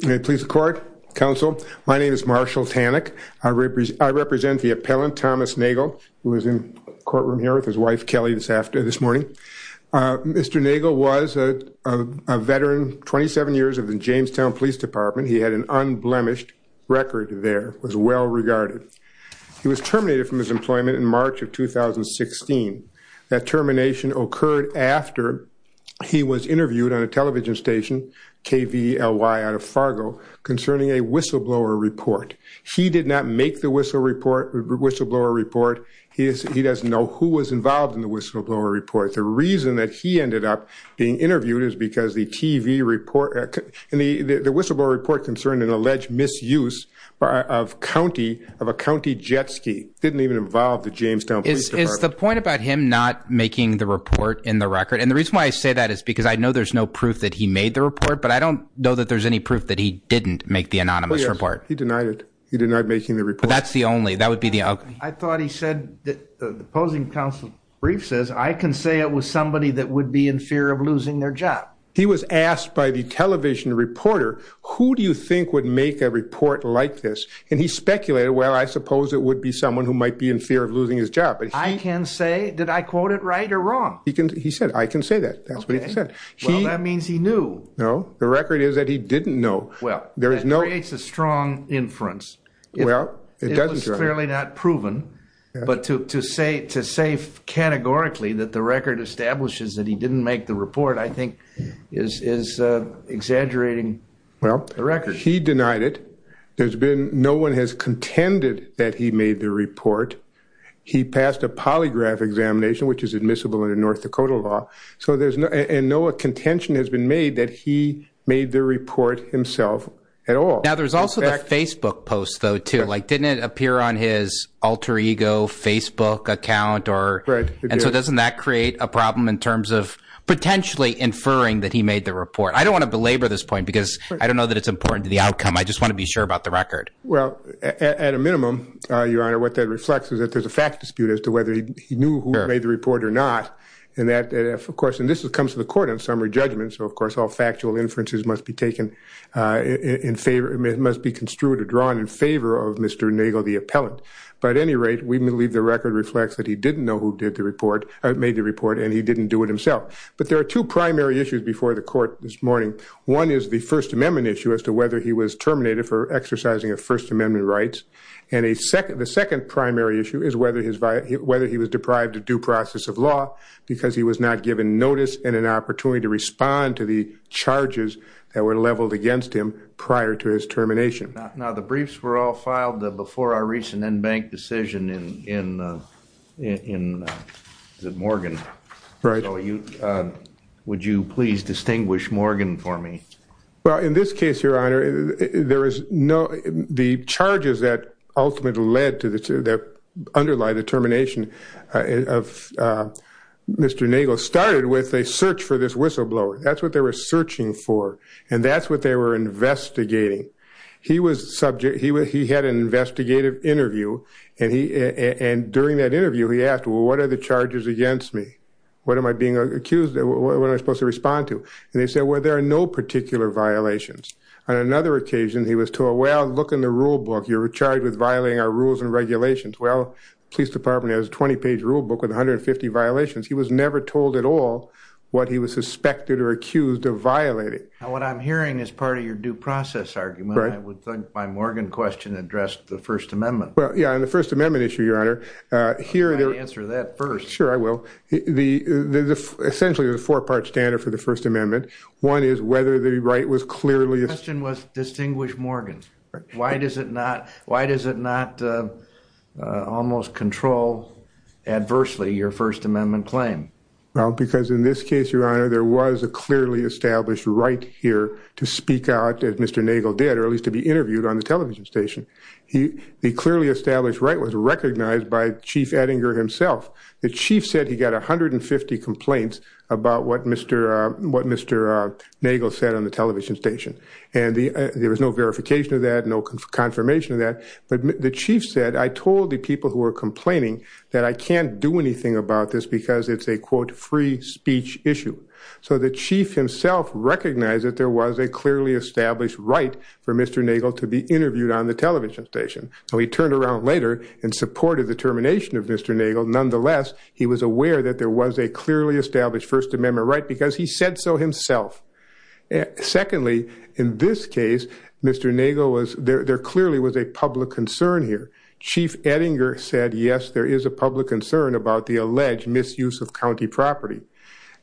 May it please the court. Counsel, my name is Marshall Tanik. I represent the appellant Thomas Nagel who is in courtroom here with his wife Kelly this after this morning. Mr. Nagel was a veteran 27 years of the Jamestown Police Department. He had an unblemished record there, was well regarded. He was terminated from his employment in March of 2016. That termination occurred after he was interviewed on a television station KVLY out of Fargo concerning a whistleblower report. He did not make the whistle report whistleblower report. He doesn't know who was involved in the whistleblower report. The reason that he ended up being interviewed is because the TV report and the the whistleblower report concerned an alleged misuse of county of a county jet ski. Didn't even involve the Jamestown Police Department. Is the point about him not making the report in the case why I say that is because I know there's no proof that he made the report but I don't know that there's any proof that he didn't make the anonymous report. He denied it. He denied making the report. But that's the only that would be the outcome. I thought he said the opposing counsel brief says I can say it was somebody that would be in fear of losing their job. He was asked by the television reporter who do you think would make a report like this and he speculated well I suppose it would be someone who might be in fear of losing his job. I can say did I quote it right or wrong? He can he said I can say that that's what he said. Well that means he knew. No the record is that he didn't know. Well there is no creates a strong inference. Well it doesn't. It's clearly not proven but to say to say categorically that the record establishes that he didn't make the report I think is exaggerating the record. He denied it. There's been no one has which is admissible in the North Dakota law. So there's no and no a contention has been made that he made the report himself at all. Now there's also a Facebook post though too like didn't it appear on his alter ego Facebook account or right and so doesn't that create a problem in terms of potentially inferring that he made the report. I don't want to belabor this point because I don't know that it's important to the outcome. I just want to be sure about the record. Well at a minimum your honor what that reflects is that there's a fact dispute as to whether he knew who made the report or not and that of course and this is comes to the court on summary judgment so of course all factual inferences must be taken in favor it must be construed or drawn in favor of Mr. Nagle the appellant. But at any rate we believe the record reflects that he didn't know who did the report made the report and he didn't do it himself. But there are two primary issues before the court this morning. One is the First Amendment issue as to whether he was terminated for exercising a First whether he was deprived of due process of law because he was not given notice and an opportunity to respond to the charges that were leveled against him prior to his termination. Now the briefs were all filed before our recent enbanked decision in in in the Morgan. Right. Oh you would you please distinguish Morgan for me. Well in this case your honor there is no the charges that ultimately led to the two that underlie the termination of Mr. Nagle started with a search for this whistleblower. That's what they were searching for and that's what they were investigating. He was subject he was he had an investigative interview and he and during that interview he asked what are the charges against me? What am I being accused of? What am I supposed to respond to? And they said well there are no particular violations. On another charge with violating our rules and regulations. Well police department has a 20-page rule book with 150 violations. He was never told at all what he was suspected or accused of violating. Now what I'm hearing is part of your due process argument. I would think my Morgan question addressed the First Amendment. Well yeah and the First Amendment issue your honor here. Answer that first. Sure I will. The the essentially the four-part standard for the First Amendment. One is whether the right was clearly. The question was distinguish Morgan. Why does it not why does it not almost control adversely your First Amendment claim? Well because in this case your honor there was a clearly established right here to speak out as Mr. Nagle did or at least to be interviewed on the television station. He the clearly established right was recognized by Chief Ettinger himself. The chief said he got a hundred and fifty complaints about what Mr. what Mr. Nagle said on the television station and the there was no verification of that no confirmation of that but the chief said I told the people who are complaining that I can't do anything about this because it's a quote free speech issue. So the chief himself recognized that there was a clearly established right for Mr. Nagle to be interviewed on the television station. So he turned around later and supported the termination of Mr. Nagle nonetheless he was aware that there was a clearly established First Amendment claim. He said so himself. Secondly in this case Mr. Nagle was there there clearly was a public concern here. Chief Ettinger said yes there is a public concern about the alleged misuse of county property.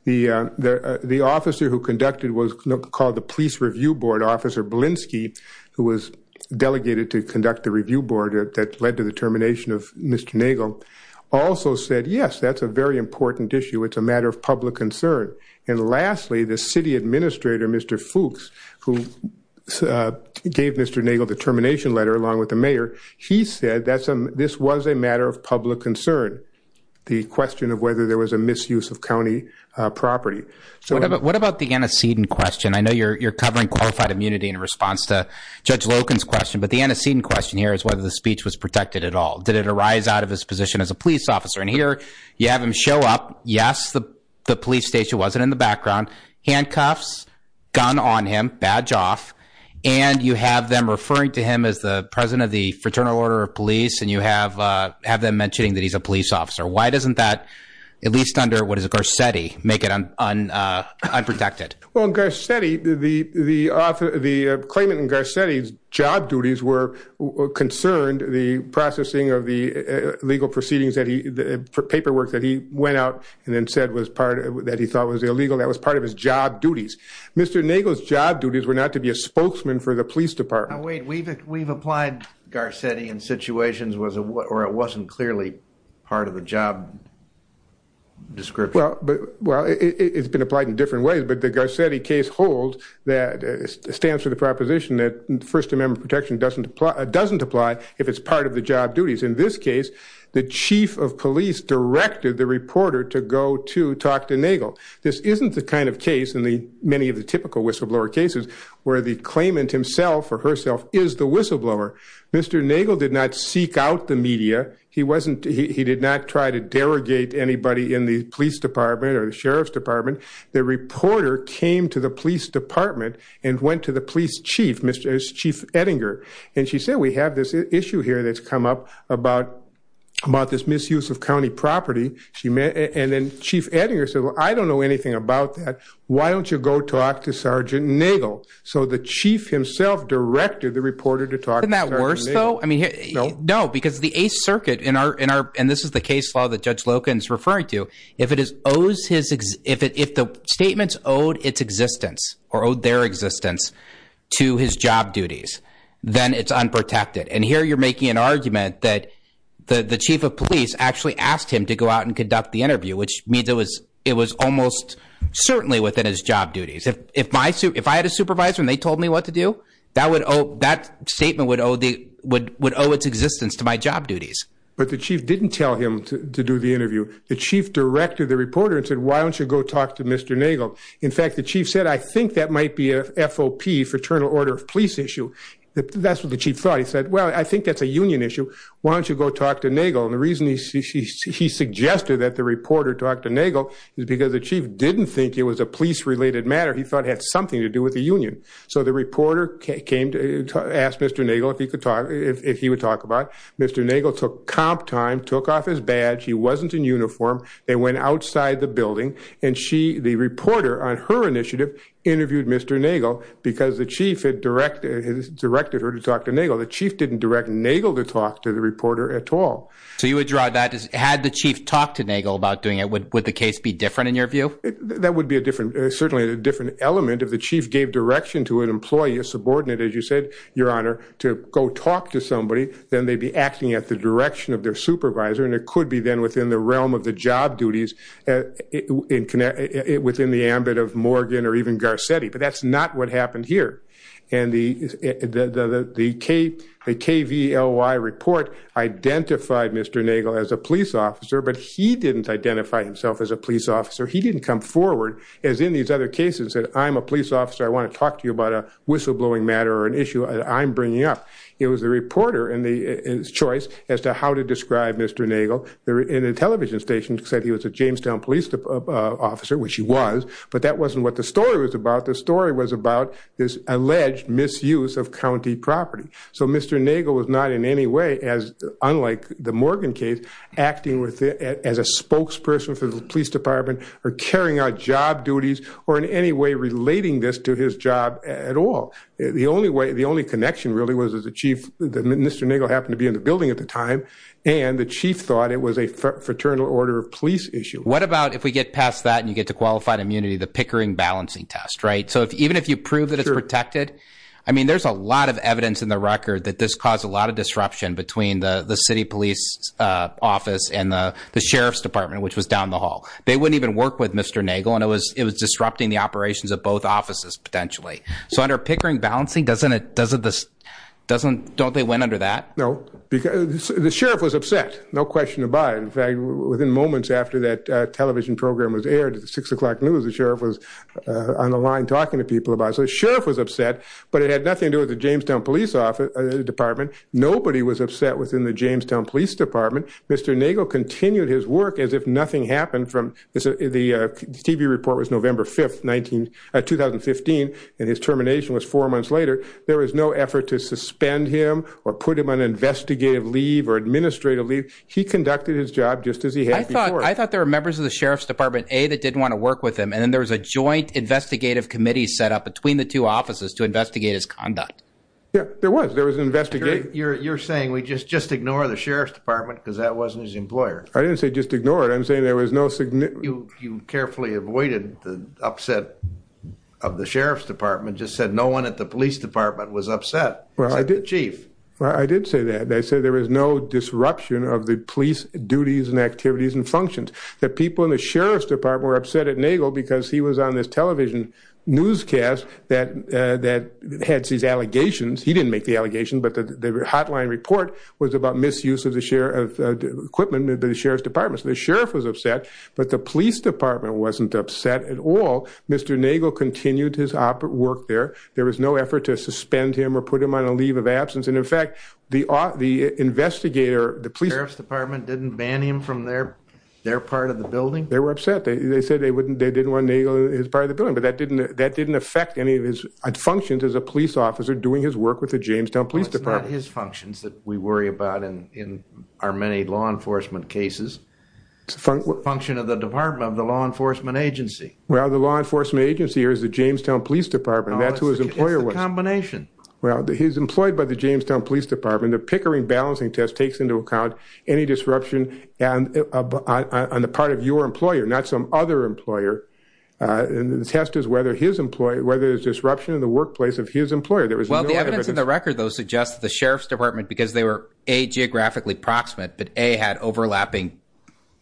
The the officer who conducted was called the police review board officer Blinsky who was delegated to conduct the review board that led to the termination of Mr. Nagle also said yes that's a very important issue it's a matter of public concern and lastly the city administrator Mr. Fuchs who gave Mr. Nagle the termination letter along with the mayor he said that's a this was a matter of public concern. The question of whether there was a misuse of county property so what about what about the antecedent question I know you're you're covering qualified immunity in response to Judge Loken's question but the antecedent question here is whether the speech was protected at all did it arise out of his position as a you have him show up yes the police station wasn't in the background handcuffs gun on him badge off and you have them referring to him as the president of the Fraternal Order of Police and you have have them mentioning that he's a police officer why doesn't that at least under what is a Garcetti make it unprotected? Well in Garcetti the the author the claimant in Garcetti's job duties were concerned the processing of the legal proceedings that he the paperwork that he went out and then said was part of that he thought was illegal that was part of his job duties. Mr. Nagle's job duties were not to be a spokesman for the police department. Wait we've we've applied Garcetti in situations was a what or it wasn't clearly part of the job description. Well but well it's been applied in different ways but the Garcetti case hold that stands for the proposition that First Amendment protection doesn't apply doesn't apply if it's part of the job duties in this case the chief of police directed the reporter to go to talk to Nagle. This isn't the kind of case in the many of the typical whistleblower cases where the claimant himself or herself is the whistleblower. Mr. Nagle did not seek out the media he wasn't he did not try to derogate anybody in the police department or the sheriff's department. The reporter came to the police department and went to the police chief Mr. Chief Ettinger and she said we have this issue here that's come up about about this misuse of County property she met and then Chief Ettinger said well I don't know anything about that why don't you go talk to Sergeant Nagle. So the chief himself directed the reporter to talk. Isn't that worse though? I mean no because the 8th Circuit in our in our and this is the case law that Judge Loken's referring to if it is owes his if it if the statements owed its existence or owed their existence to his unprotected and here you're making an argument that the the chief of police actually asked him to go out and conduct the interview which means it was it was almost certainly within his job duties. If my suit if I had a supervisor and they told me what to do that would owe that statement would owe the would would owe its existence to my job duties. But the chief didn't tell him to do the interview the chief directed the reporter and said why don't you go talk to Mr. Nagle. In fact the chief said I think that might be a FOP fraternal order of police issue. That's what the chief thought he said well I think that's a union issue why don't you go talk to Nagle and the reason he suggested that the reporter talked to Nagle is because the chief didn't think it was a police related matter he thought had something to do with the union. So the reporter came to ask Mr. Nagle if he could talk if he would talk about. Mr. Nagle took comp time took off his badge he wasn't in uniform they went outside the building and she the reporter on her initiative interviewed Mr. Nagle because the chief had directed her to talk to Nagle. The chief didn't direct Nagle to talk to the reporter at all. So you would draw that as had the chief talked to Nagle about doing it would the case be different in your view? That would be a different certainly a different element if the chief gave direction to an employee a subordinate as you said your honor to go talk to somebody then they'd be acting at the direction of their supervisor and it could be then within the realm of the job duties within the ambit of Morgan or even Garcetti but that's not what happened here and the the K the KVLY report identified Mr. Nagle as a police officer but he didn't identify himself as a police officer he didn't come forward as in these other cases that I'm a police officer I want to talk to you about a whistleblowing matter or an issue I'm bringing up. It was the reporter and the choice as to how to describe Mr. Nagle there in a television station said he was a Jamestown police officer which he was but that wasn't what the story was about the story was about this alleged misuse of county property so Mr. Nagle was not in any way as unlike the Morgan case acting with it as a spokesperson for the Police Department or carrying out job duties or in any way relating this to his job at all. The only way the only connection really was as a chief that Mr. Nagle happened to be in the building at the time and the chief thought it was a qualified immunity the Pickering balancing test right so if even if you prove that it's protected I mean there's a lot of evidence in the record that this caused a lot of disruption between the the City Police Office and the the Sheriff's Department which was down the hall they wouldn't even work with Mr. Nagle and it was it was disrupting the operations of both offices potentially so under Pickering balancing doesn't it doesn't this doesn't don't they went under that? No because the sheriff was upset no question about it in fact within moments after that television program was aired at the six o'clock news the sheriff was on the line talking to people about so the sheriff was upset but it had nothing to do with the Jamestown Police Department nobody was upset within the Jamestown Police Department Mr. Nagle continued his work as if nothing happened from the TV report was November 5th 19 2015 and his termination was four months later there was no effort to suspend him or put him on investigative leave or administrative leave he conducted his job just as he had I thought there were members of the Sheriff's Department a that didn't want to work with him and then there was a joint investigative committee set up between the two offices to investigate his conduct yeah there was there was an investigator you're you're saying we just just ignore the Sheriff's Department because that wasn't his employer I didn't say just ignore it I'm saying there was no significant you carefully avoided the upset of the Sheriff's Department just said no one at the Police Department was upset well I did say that they said there was no disruption of the police duties and activities and functions that people in the Sheriff's Department were upset at Nagle because he was on this television newscast that that had these allegations he didn't make the allegation but the hotline report was about misuse of the share of equipment the Sheriff's Department so the sheriff was upset but the Police Department wasn't upset at all Mr. Nagle continued his opera work there there was no effort to suspend him or put him on a leave of effect the the investigator the Police Department didn't ban him from their their part of the building they were upset they said they wouldn't they didn't want Nagle his part of the building but that didn't that didn't affect any of his functions as a police officer doing his work with the Jamestown Police Department his functions that we worry about and in our many law enforcement cases it's a function of the Department of the Law Enforcement Agency well the Law Enforcement Agency here is the Jamestown Police Department that's who his employer was combination well he's employed by the Jamestown Police Department the Pickering balancing test takes into account any disruption and on the part of your employer not some other employer and the test is whether his employee whether it's disruption in the workplace of his employer there was well the evidence in the record those suggests the Sheriff's Department because they were a geographically proximate but a had overlapping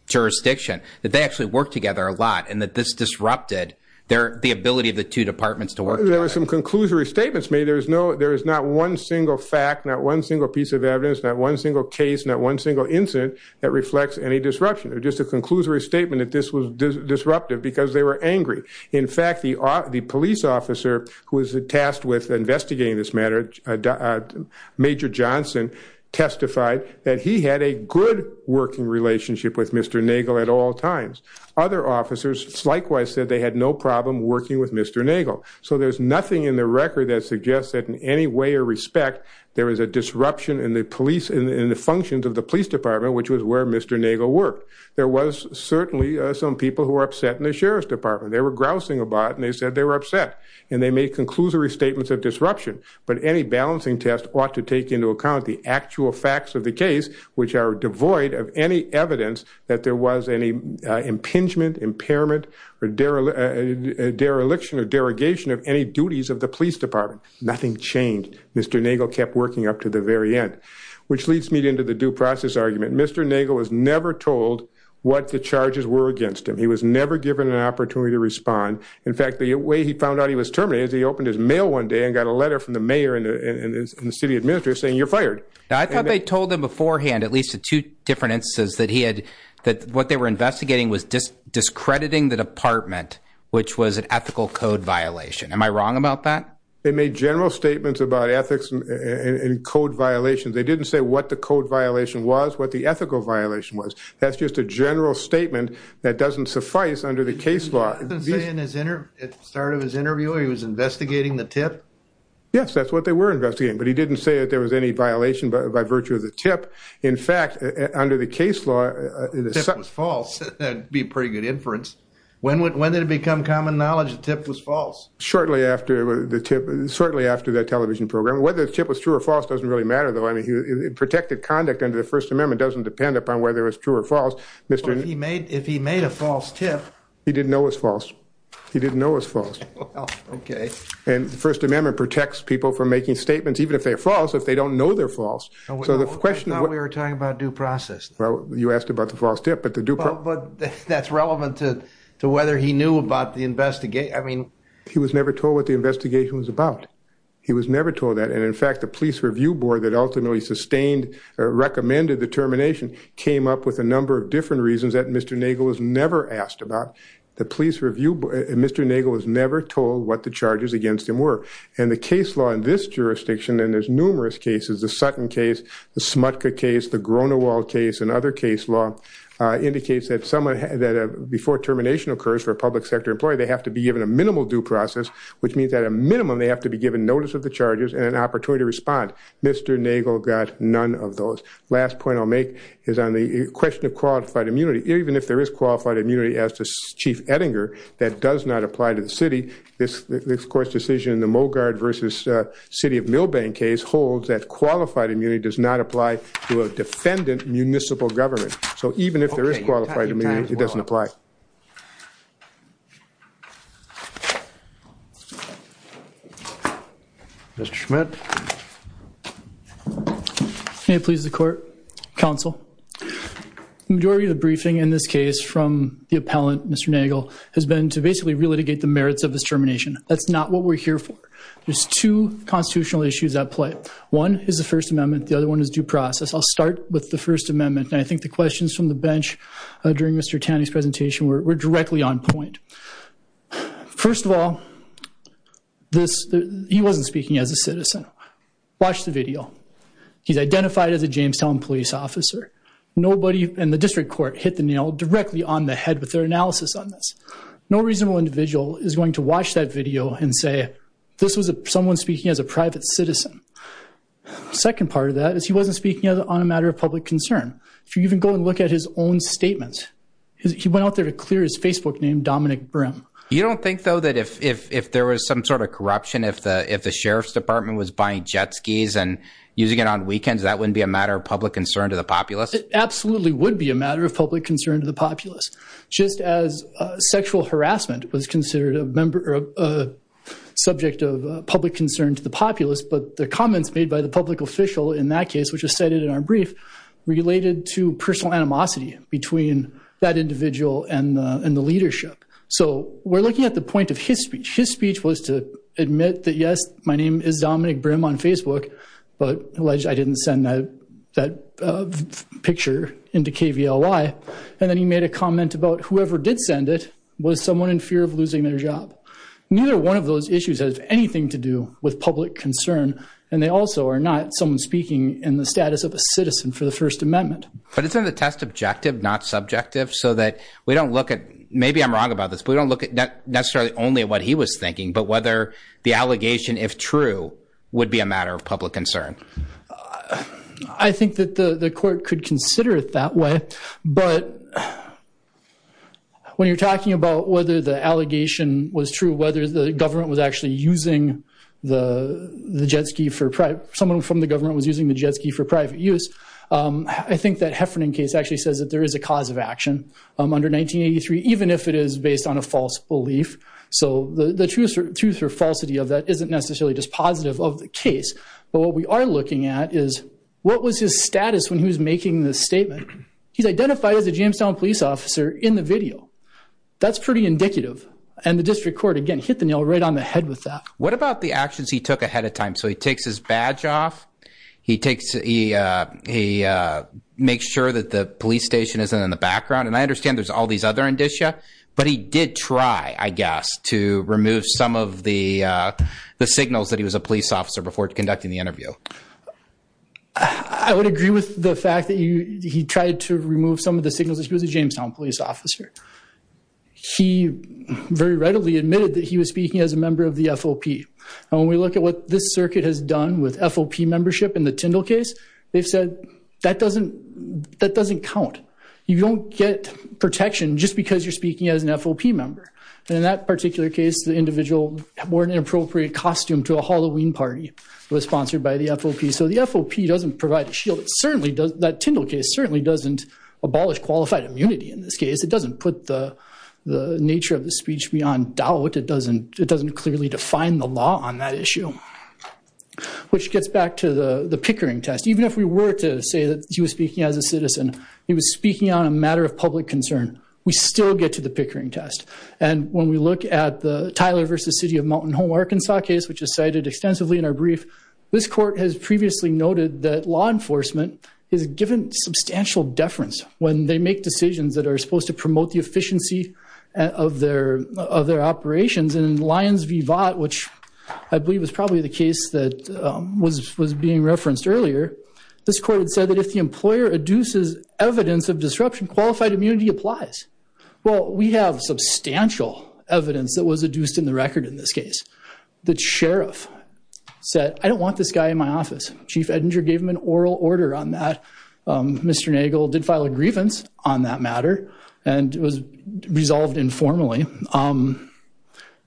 jurisdiction that they actually work together a lot and that this disrupted their the ability of the two departments to work there are some conclusory statements made there's no there is not one single fact not one single piece of evidence not one single case not one single incident that reflects any disruption or just a conclusory statement that this was disruptive because they were angry in fact the are the police officer who is tasked with investigating this matter Major Johnson testified that he had a good working relationship with mr. Nagle at all times other officers likewise said they had no problem working with mr. Nagle so there's nothing in the record that suggests that in any way or respect there is a disruption in the police in the functions of the police department which was where mr. Nagle worked there was certainly some people who are upset in the Sheriff's Department they were grousing about and they said they were upset and they made conclusory statements of disruption but any balancing test ought to take into account the actual facts of the case which are devoid of any evidence that there was any impingement impairment or dereliction or derogation of any duties of the police department nothing changed mr. Nagle kept working up to the very end which leads me into the due process argument mr. Nagle was never told what the charges were against him he was never given an opportunity to respond in fact the way he found out he was terminated he opened his mail one day and got a letter from the mayor and the city administrator saying you're fired I thought they told them beforehand at least two different instances that he had that what they were investigating was just discrediting the department which was an ethical code violation am I wrong about that they made general statements about ethics and code violations they didn't say what the code violation was what the ethical violation was that's just a general statement that doesn't suffice under the case law it started his interview he was investigating the tip yes that's what they were investigating but he didn't say that there was any violation but by virtue of the tip in fact under the case law it was false that'd be pretty good inference when would whether to become common knowledge the tip was false shortly after the tip certainly after that television program whether the tip was true or false doesn't really matter though I mean he protected conduct under the First Amendment doesn't depend upon whether it's true or false mr. he made if he made a false tip he didn't know it's false he didn't know it's false okay and the First Amendment protects people from making statements even if they're false if they don't know they're false so the question what we were talking about due process well you asked about the false tip but the duper but that's relevant to to whether he knew about the investigation I mean he was never told what the investigation was about he was never told that and in fact the Police Review Board that ultimately sustained or recommended the termination came up with a number of different reasons that mr. Nagel was never asked about the police review but mr. Nagel was never told what the charges against him were and the case law in this case is the Sutton case the Smutka case the Gronewald case and other case law indicates that someone had that before termination occurs for a public sector employee they have to be given a minimal due process which means that a minimum they have to be given notice of the charges and an opportunity to respond mr. Nagel got none of those last point I'll make is on the question of qualified immunity even if there is qualified immunity as to chief Ettinger that does not apply to the city this of course decision in the mogard versus city of Milbank case holds that qualified immunity does not apply to a defendant municipal government so even if there is qualified immunity it doesn't apply mr. Schmidt may please the court counsel majority of the briefing in this case from the appellant mr. Nagel has been to basically relitigate the merits of this termination that's not what we're here for there's two constitutional issues at play one is the First Amendment the other one is due process I'll start with the First Amendment and I think the questions from the bench during mr. Tanning's presentation we're directly on point first of all this he wasn't speaking as a citizen watch the video he's identified as a Jamestown police officer nobody in the district court hit the nail directly on the head with their analysis on this no reasonable individual is going to watch that video and say this was a someone speaking as a private citizen second part of that is he wasn't speaking on a matter of public concern if you even go and look at his own statement he went out there to clear his Facebook name Dominic Brim you don't think though that if if there was some sort of corruption if the if the sheriff's department was buying jet skis and using it on weekends that wouldn't be a matter of public concern to the populace it absolutely would be a matter of public concern to the populace just as sexual harassment was considered a member of a subject of public concern to the populace but the comments made by the public official in that case which is cited in our brief related to personal animosity between that individual and in the leadership so we're looking at the point of his speech his speech was to admit that yes my name is Dominic Brim on Facebook but alleged I didn't send that that picture into KVLY and then he made a comment about whoever did send it was someone in fear of losing their job neither one of those issues has anything to do with public concern and they also are not someone speaking in the status of a citizen for the First Amendment but it's in the test objective not subjective so that we don't look at maybe I'm wrong about this but we don't look at that necessarily only what he was thinking but whether the allegation if true would be a matter of public concern I think that the the court could consider it that way but when you're talking about whether the allegation was true whether the government was actually using the the jet ski for private someone from the government was using the jet ski for private use I think that Heffernan case actually says that there is a cause of action under 1983 even if it is based on a false belief so the truth truth or falsity of that isn't necessarily just positive of the case but what we are looking at is what was his status when he was making this statement he's identified as a Jamestown police officer in the video that's pretty indicative and the district court again hit the nail right on the head with that what about the actions he took ahead of time so he takes his badge off he takes he makes sure that the police station isn't in the background and I understand there's all these other indicia but he did try I guess to remove some of the the signals that he was a police officer before conducting the interview I would agree with the fact that you he tried to remove some of the signals as he was a Jamestown police officer he very readily admitted that he was speaking as a member of the FOP when we look at what this circuit has done with FOP membership in the Tyndall case they've said that doesn't that doesn't count you don't get protection just because you're speaking as an FOP member and in that particular case the individual wore an inappropriate costume to a Halloween party was sponsored by the FOP so the FOP doesn't provide a shield it certainly does that Tyndall case certainly doesn't abolish qualified immunity in this case it doesn't put the the nature of the speech beyond doubt it doesn't it doesn't clearly define the law on that issue which gets back to the the Pickering test even if we were to say that he was speaking as a citizen he was speaking on a matter of public concern we still get to the Pickering test and when we look at the Tyler versus City of Mountain Home Arkansas case which is cited extensively in our brief this court has previously noted that law enforcement is given substantial deference when they make decisions that are supposed to promote the efficiency of their of their operations in Lyons v. Vought which I believe was probably the case that was was being referenced earlier this court had said that if the employer adduces evidence of disruption qualified immunity applies well we have substantial evidence that was adduced in the record in this case the sheriff said I don't want this guy in my office Chief Edinger gave him an oral order on that Mr. Nagel did file a grievance on that matter and it was resolved informally um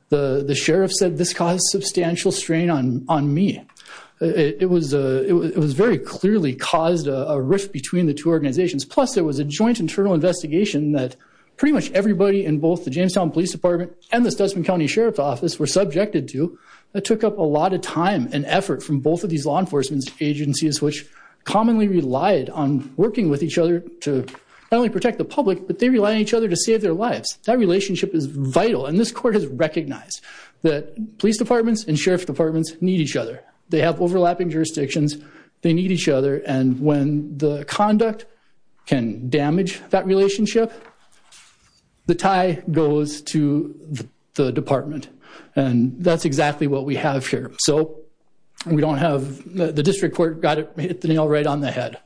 the the sheriff said this caused substantial strain on on me it was it was very clearly caused a rift between the two organizations plus there was a joint internal investigation that pretty much everybody in both the Jamestown Police Department and the Studsman County Sheriff's Office were subjected to that took up a lot of time and effort from both of these law enforcement agencies which commonly relied on working with each other to only protect the public but they rely on each other to save their lives that relationship is vital and this court has recognized that police departments and jurisdictions they need each other and when the conduct can damage that relationship the tie goes to the department and that's exactly what we have here so we don't have the district court got it hit the nail right on the head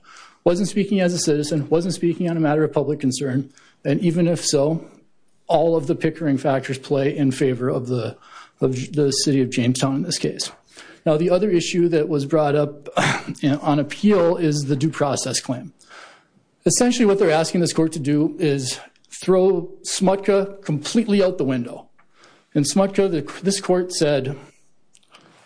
wasn't speaking as a citizen wasn't speaking on a matter of public concern and even if so all of the pickering factors play in favor of the of the city of Jamestown in this case now the other issue that was brought up on appeal is the due process claim essentially what they're asking this court to do is throw Smutka completely out the window and Smutka this court said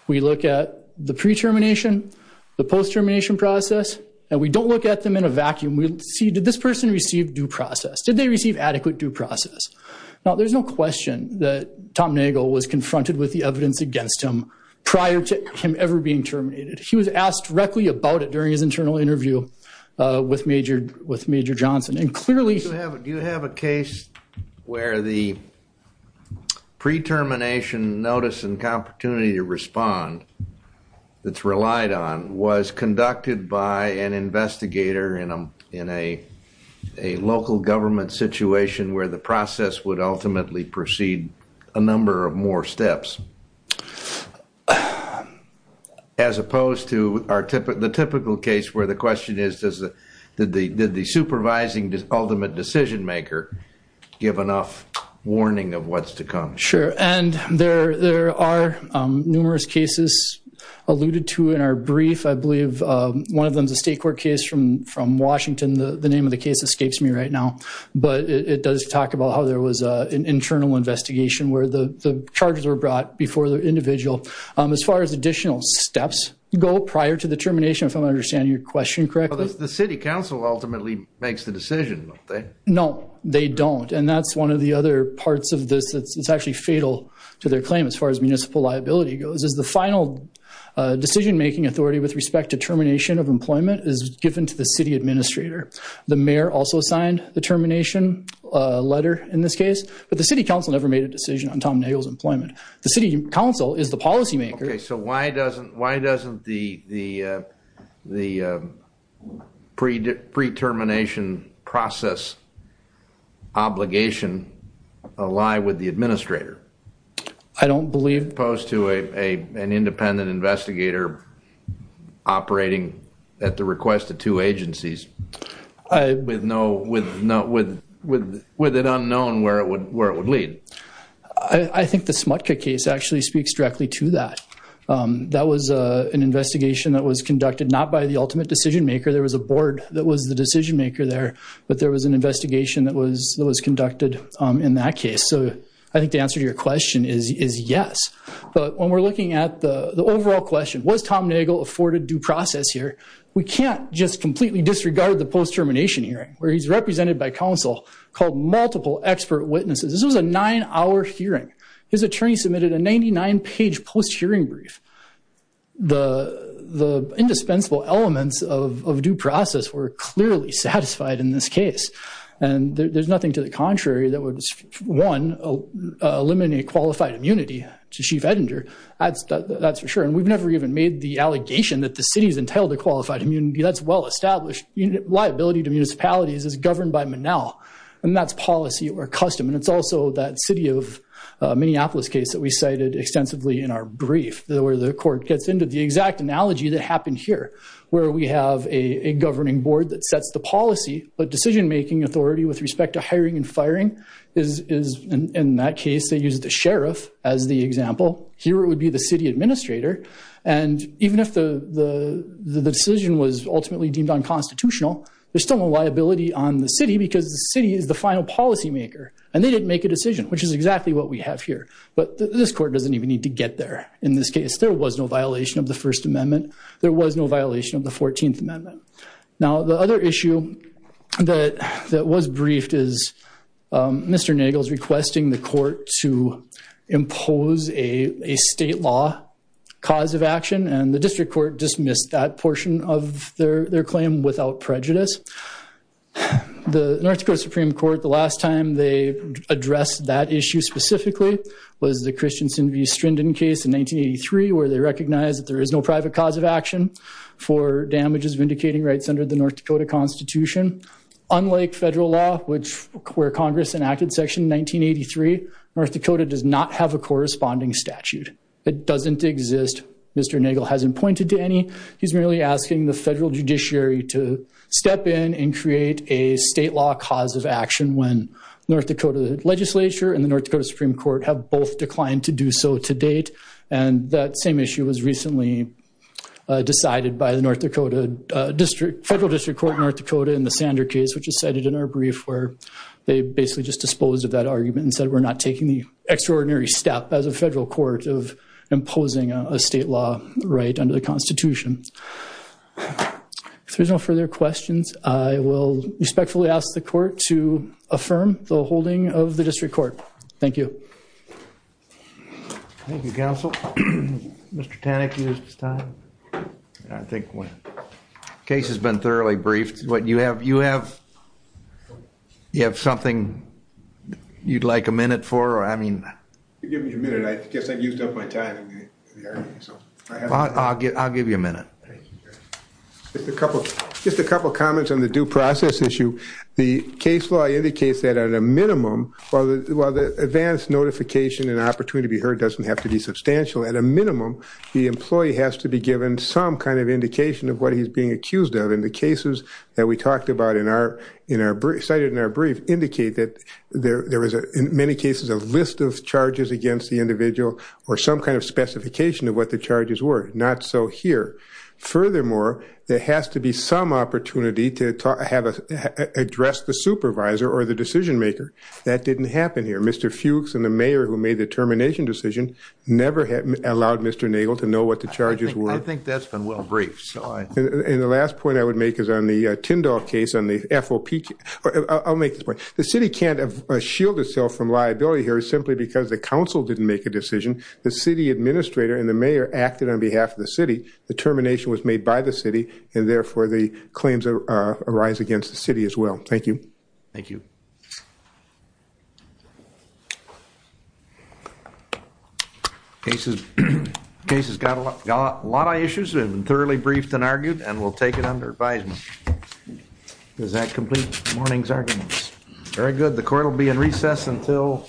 we look at the pre-termination the post termination process and we don't look at them in a vacuum we see did this person receive due process did they receive adequate due process now there's no question that Tom Nagel was confronted with the prior to him ever being terminated he was asked directly about it during his internal interview with majored with Major Johnson and clearly do you have a case where the pre-termination notice and opportunity to respond that's relied on was conducted by an investigator in a in a a local government situation where the process would ultimately proceed a number of more steps as opposed to our tip of the typical case where the question is does the did the did the supervising this ultimate decision-maker give enough warning of what's to come sure and there there are numerous cases alluded to in our brief I believe one of them's a state court case from from Washington the the name of the case escapes me right now but it does talk about how was an internal investigation where the charges were brought before the individual as far as additional steps go prior to the termination from understanding your question correctly the City Council ultimately makes the decision no they don't and that's one of the other parts of this it's actually fatal to their claim as far as municipal liability goes is the final decision making authority with respect to termination of employment is given to the city administrator the mayor also signed the termination letter in this case but the City Council never made a decision on Tom Nagle's employment the City Council is the policymaker so why doesn't why doesn't the the the pre pre termination process obligation ally with the administrator I don't believe opposed to a an independent investigator operating at the request of two agencies I with no with no with with with it unknown where it would where it would lead I think the smutka case actually speaks directly to that that was an investigation that was conducted not by the ultimate decision maker there was a board that was the decision maker there but there was an investigation that was that was conducted in that case so I think the answer to your question is is yes but when we're looking at the the overall question was Tom Nagel afforded process here we can't just completely disregard the post termination hearing where he's represented by counsel called multiple expert witnesses this was a nine-hour hearing his attorney submitted a 99 page post hearing brief the the indispensable elements of due process were clearly satisfied in this case and there's nothing to the contrary that would one eliminate qualified immunity to chief editor that's that's for sure and we've never even made the allegation that the city's entailed a qualified immunity that's well-established liability to municipalities is governed by Manal and that's policy or custom and it's also that city of Minneapolis case that we cited extensively in our brief where the court gets into the exact analogy that happened here where we have a governing board that sets the policy but decision-making authority with respect to hiring and firing is in that case they use the sheriff as the example here it would be the city administrator and even if the the the decision was ultimately deemed unconstitutional there's still no liability on the city because the city is the final policymaker and they didn't make a decision which is exactly what we have here but this court doesn't even need to get there in this case there was no violation of the First Amendment there was no violation of the 14th Amendment now the other issue that that was briefed Mr. Nagel's requesting the court to impose a state law cause of action and the district court dismissed that portion of their claim without prejudice the North Dakota Supreme Court the last time they addressed that issue specifically was the Christianson v. Strinden case in 1983 where they recognized that there is no private cause of action for damages vindicating rights under the North Dakota Constitution unlike federal law which where Congress enacted section 1983 North Dakota does not have a corresponding statute it doesn't exist Mr. Nagel hasn't pointed to any he's merely asking the federal judiciary to step in and create a state law cause of action when North Dakota legislature and the North Dakota Supreme Court have both declined to do so to date and that same issue was recently decided by the North District Federal District Court North Dakota in the Sander case which is cited in our brief where they basically just disposed of that argument and said we're not taking the extraordinary step as a federal court of imposing a state law right under the Constitution if there's no further questions I will respectfully ask the court to affirm the holding of the district court thank you thank you counsel mr. Tanik used his time I think when case has been thoroughly briefed what you have you have you have something you'd like a minute for I mean I'll give you a minute it's a couple just a couple comments on the due process issue the case law indicates that at a minimum or the advanced notification and opportunity to be heard doesn't have to be substantial at a minimum the employee has to be given some kind of indication of what he's being accused of in the cases that we talked about in our in our brief cited in our brief indicate that there there was a in many cases a list of charges against the individual or some kind of specification of what the charges were not so here furthermore there has to be some opportunity to talk address the supervisor or the decision-maker that didn't happen here mr. Fuchs and the mayor who made the termination decision never had allowed mr. Nagel to know what the charges were I think that's been well briefed and the last point I would make is on the Tindall case on the FOP I'll make this point the city can't have shielded self from liability here is simply because the council didn't make a decision the city administrator and the mayor acted on behalf of the city the termination was made by the city and therefore the claims arise against the city as well thank you thank you cases cases got a lot got a lot of issues and thoroughly briefed and argued and we'll take it under advisement is that complete mornings arguments very good the court will be in recess until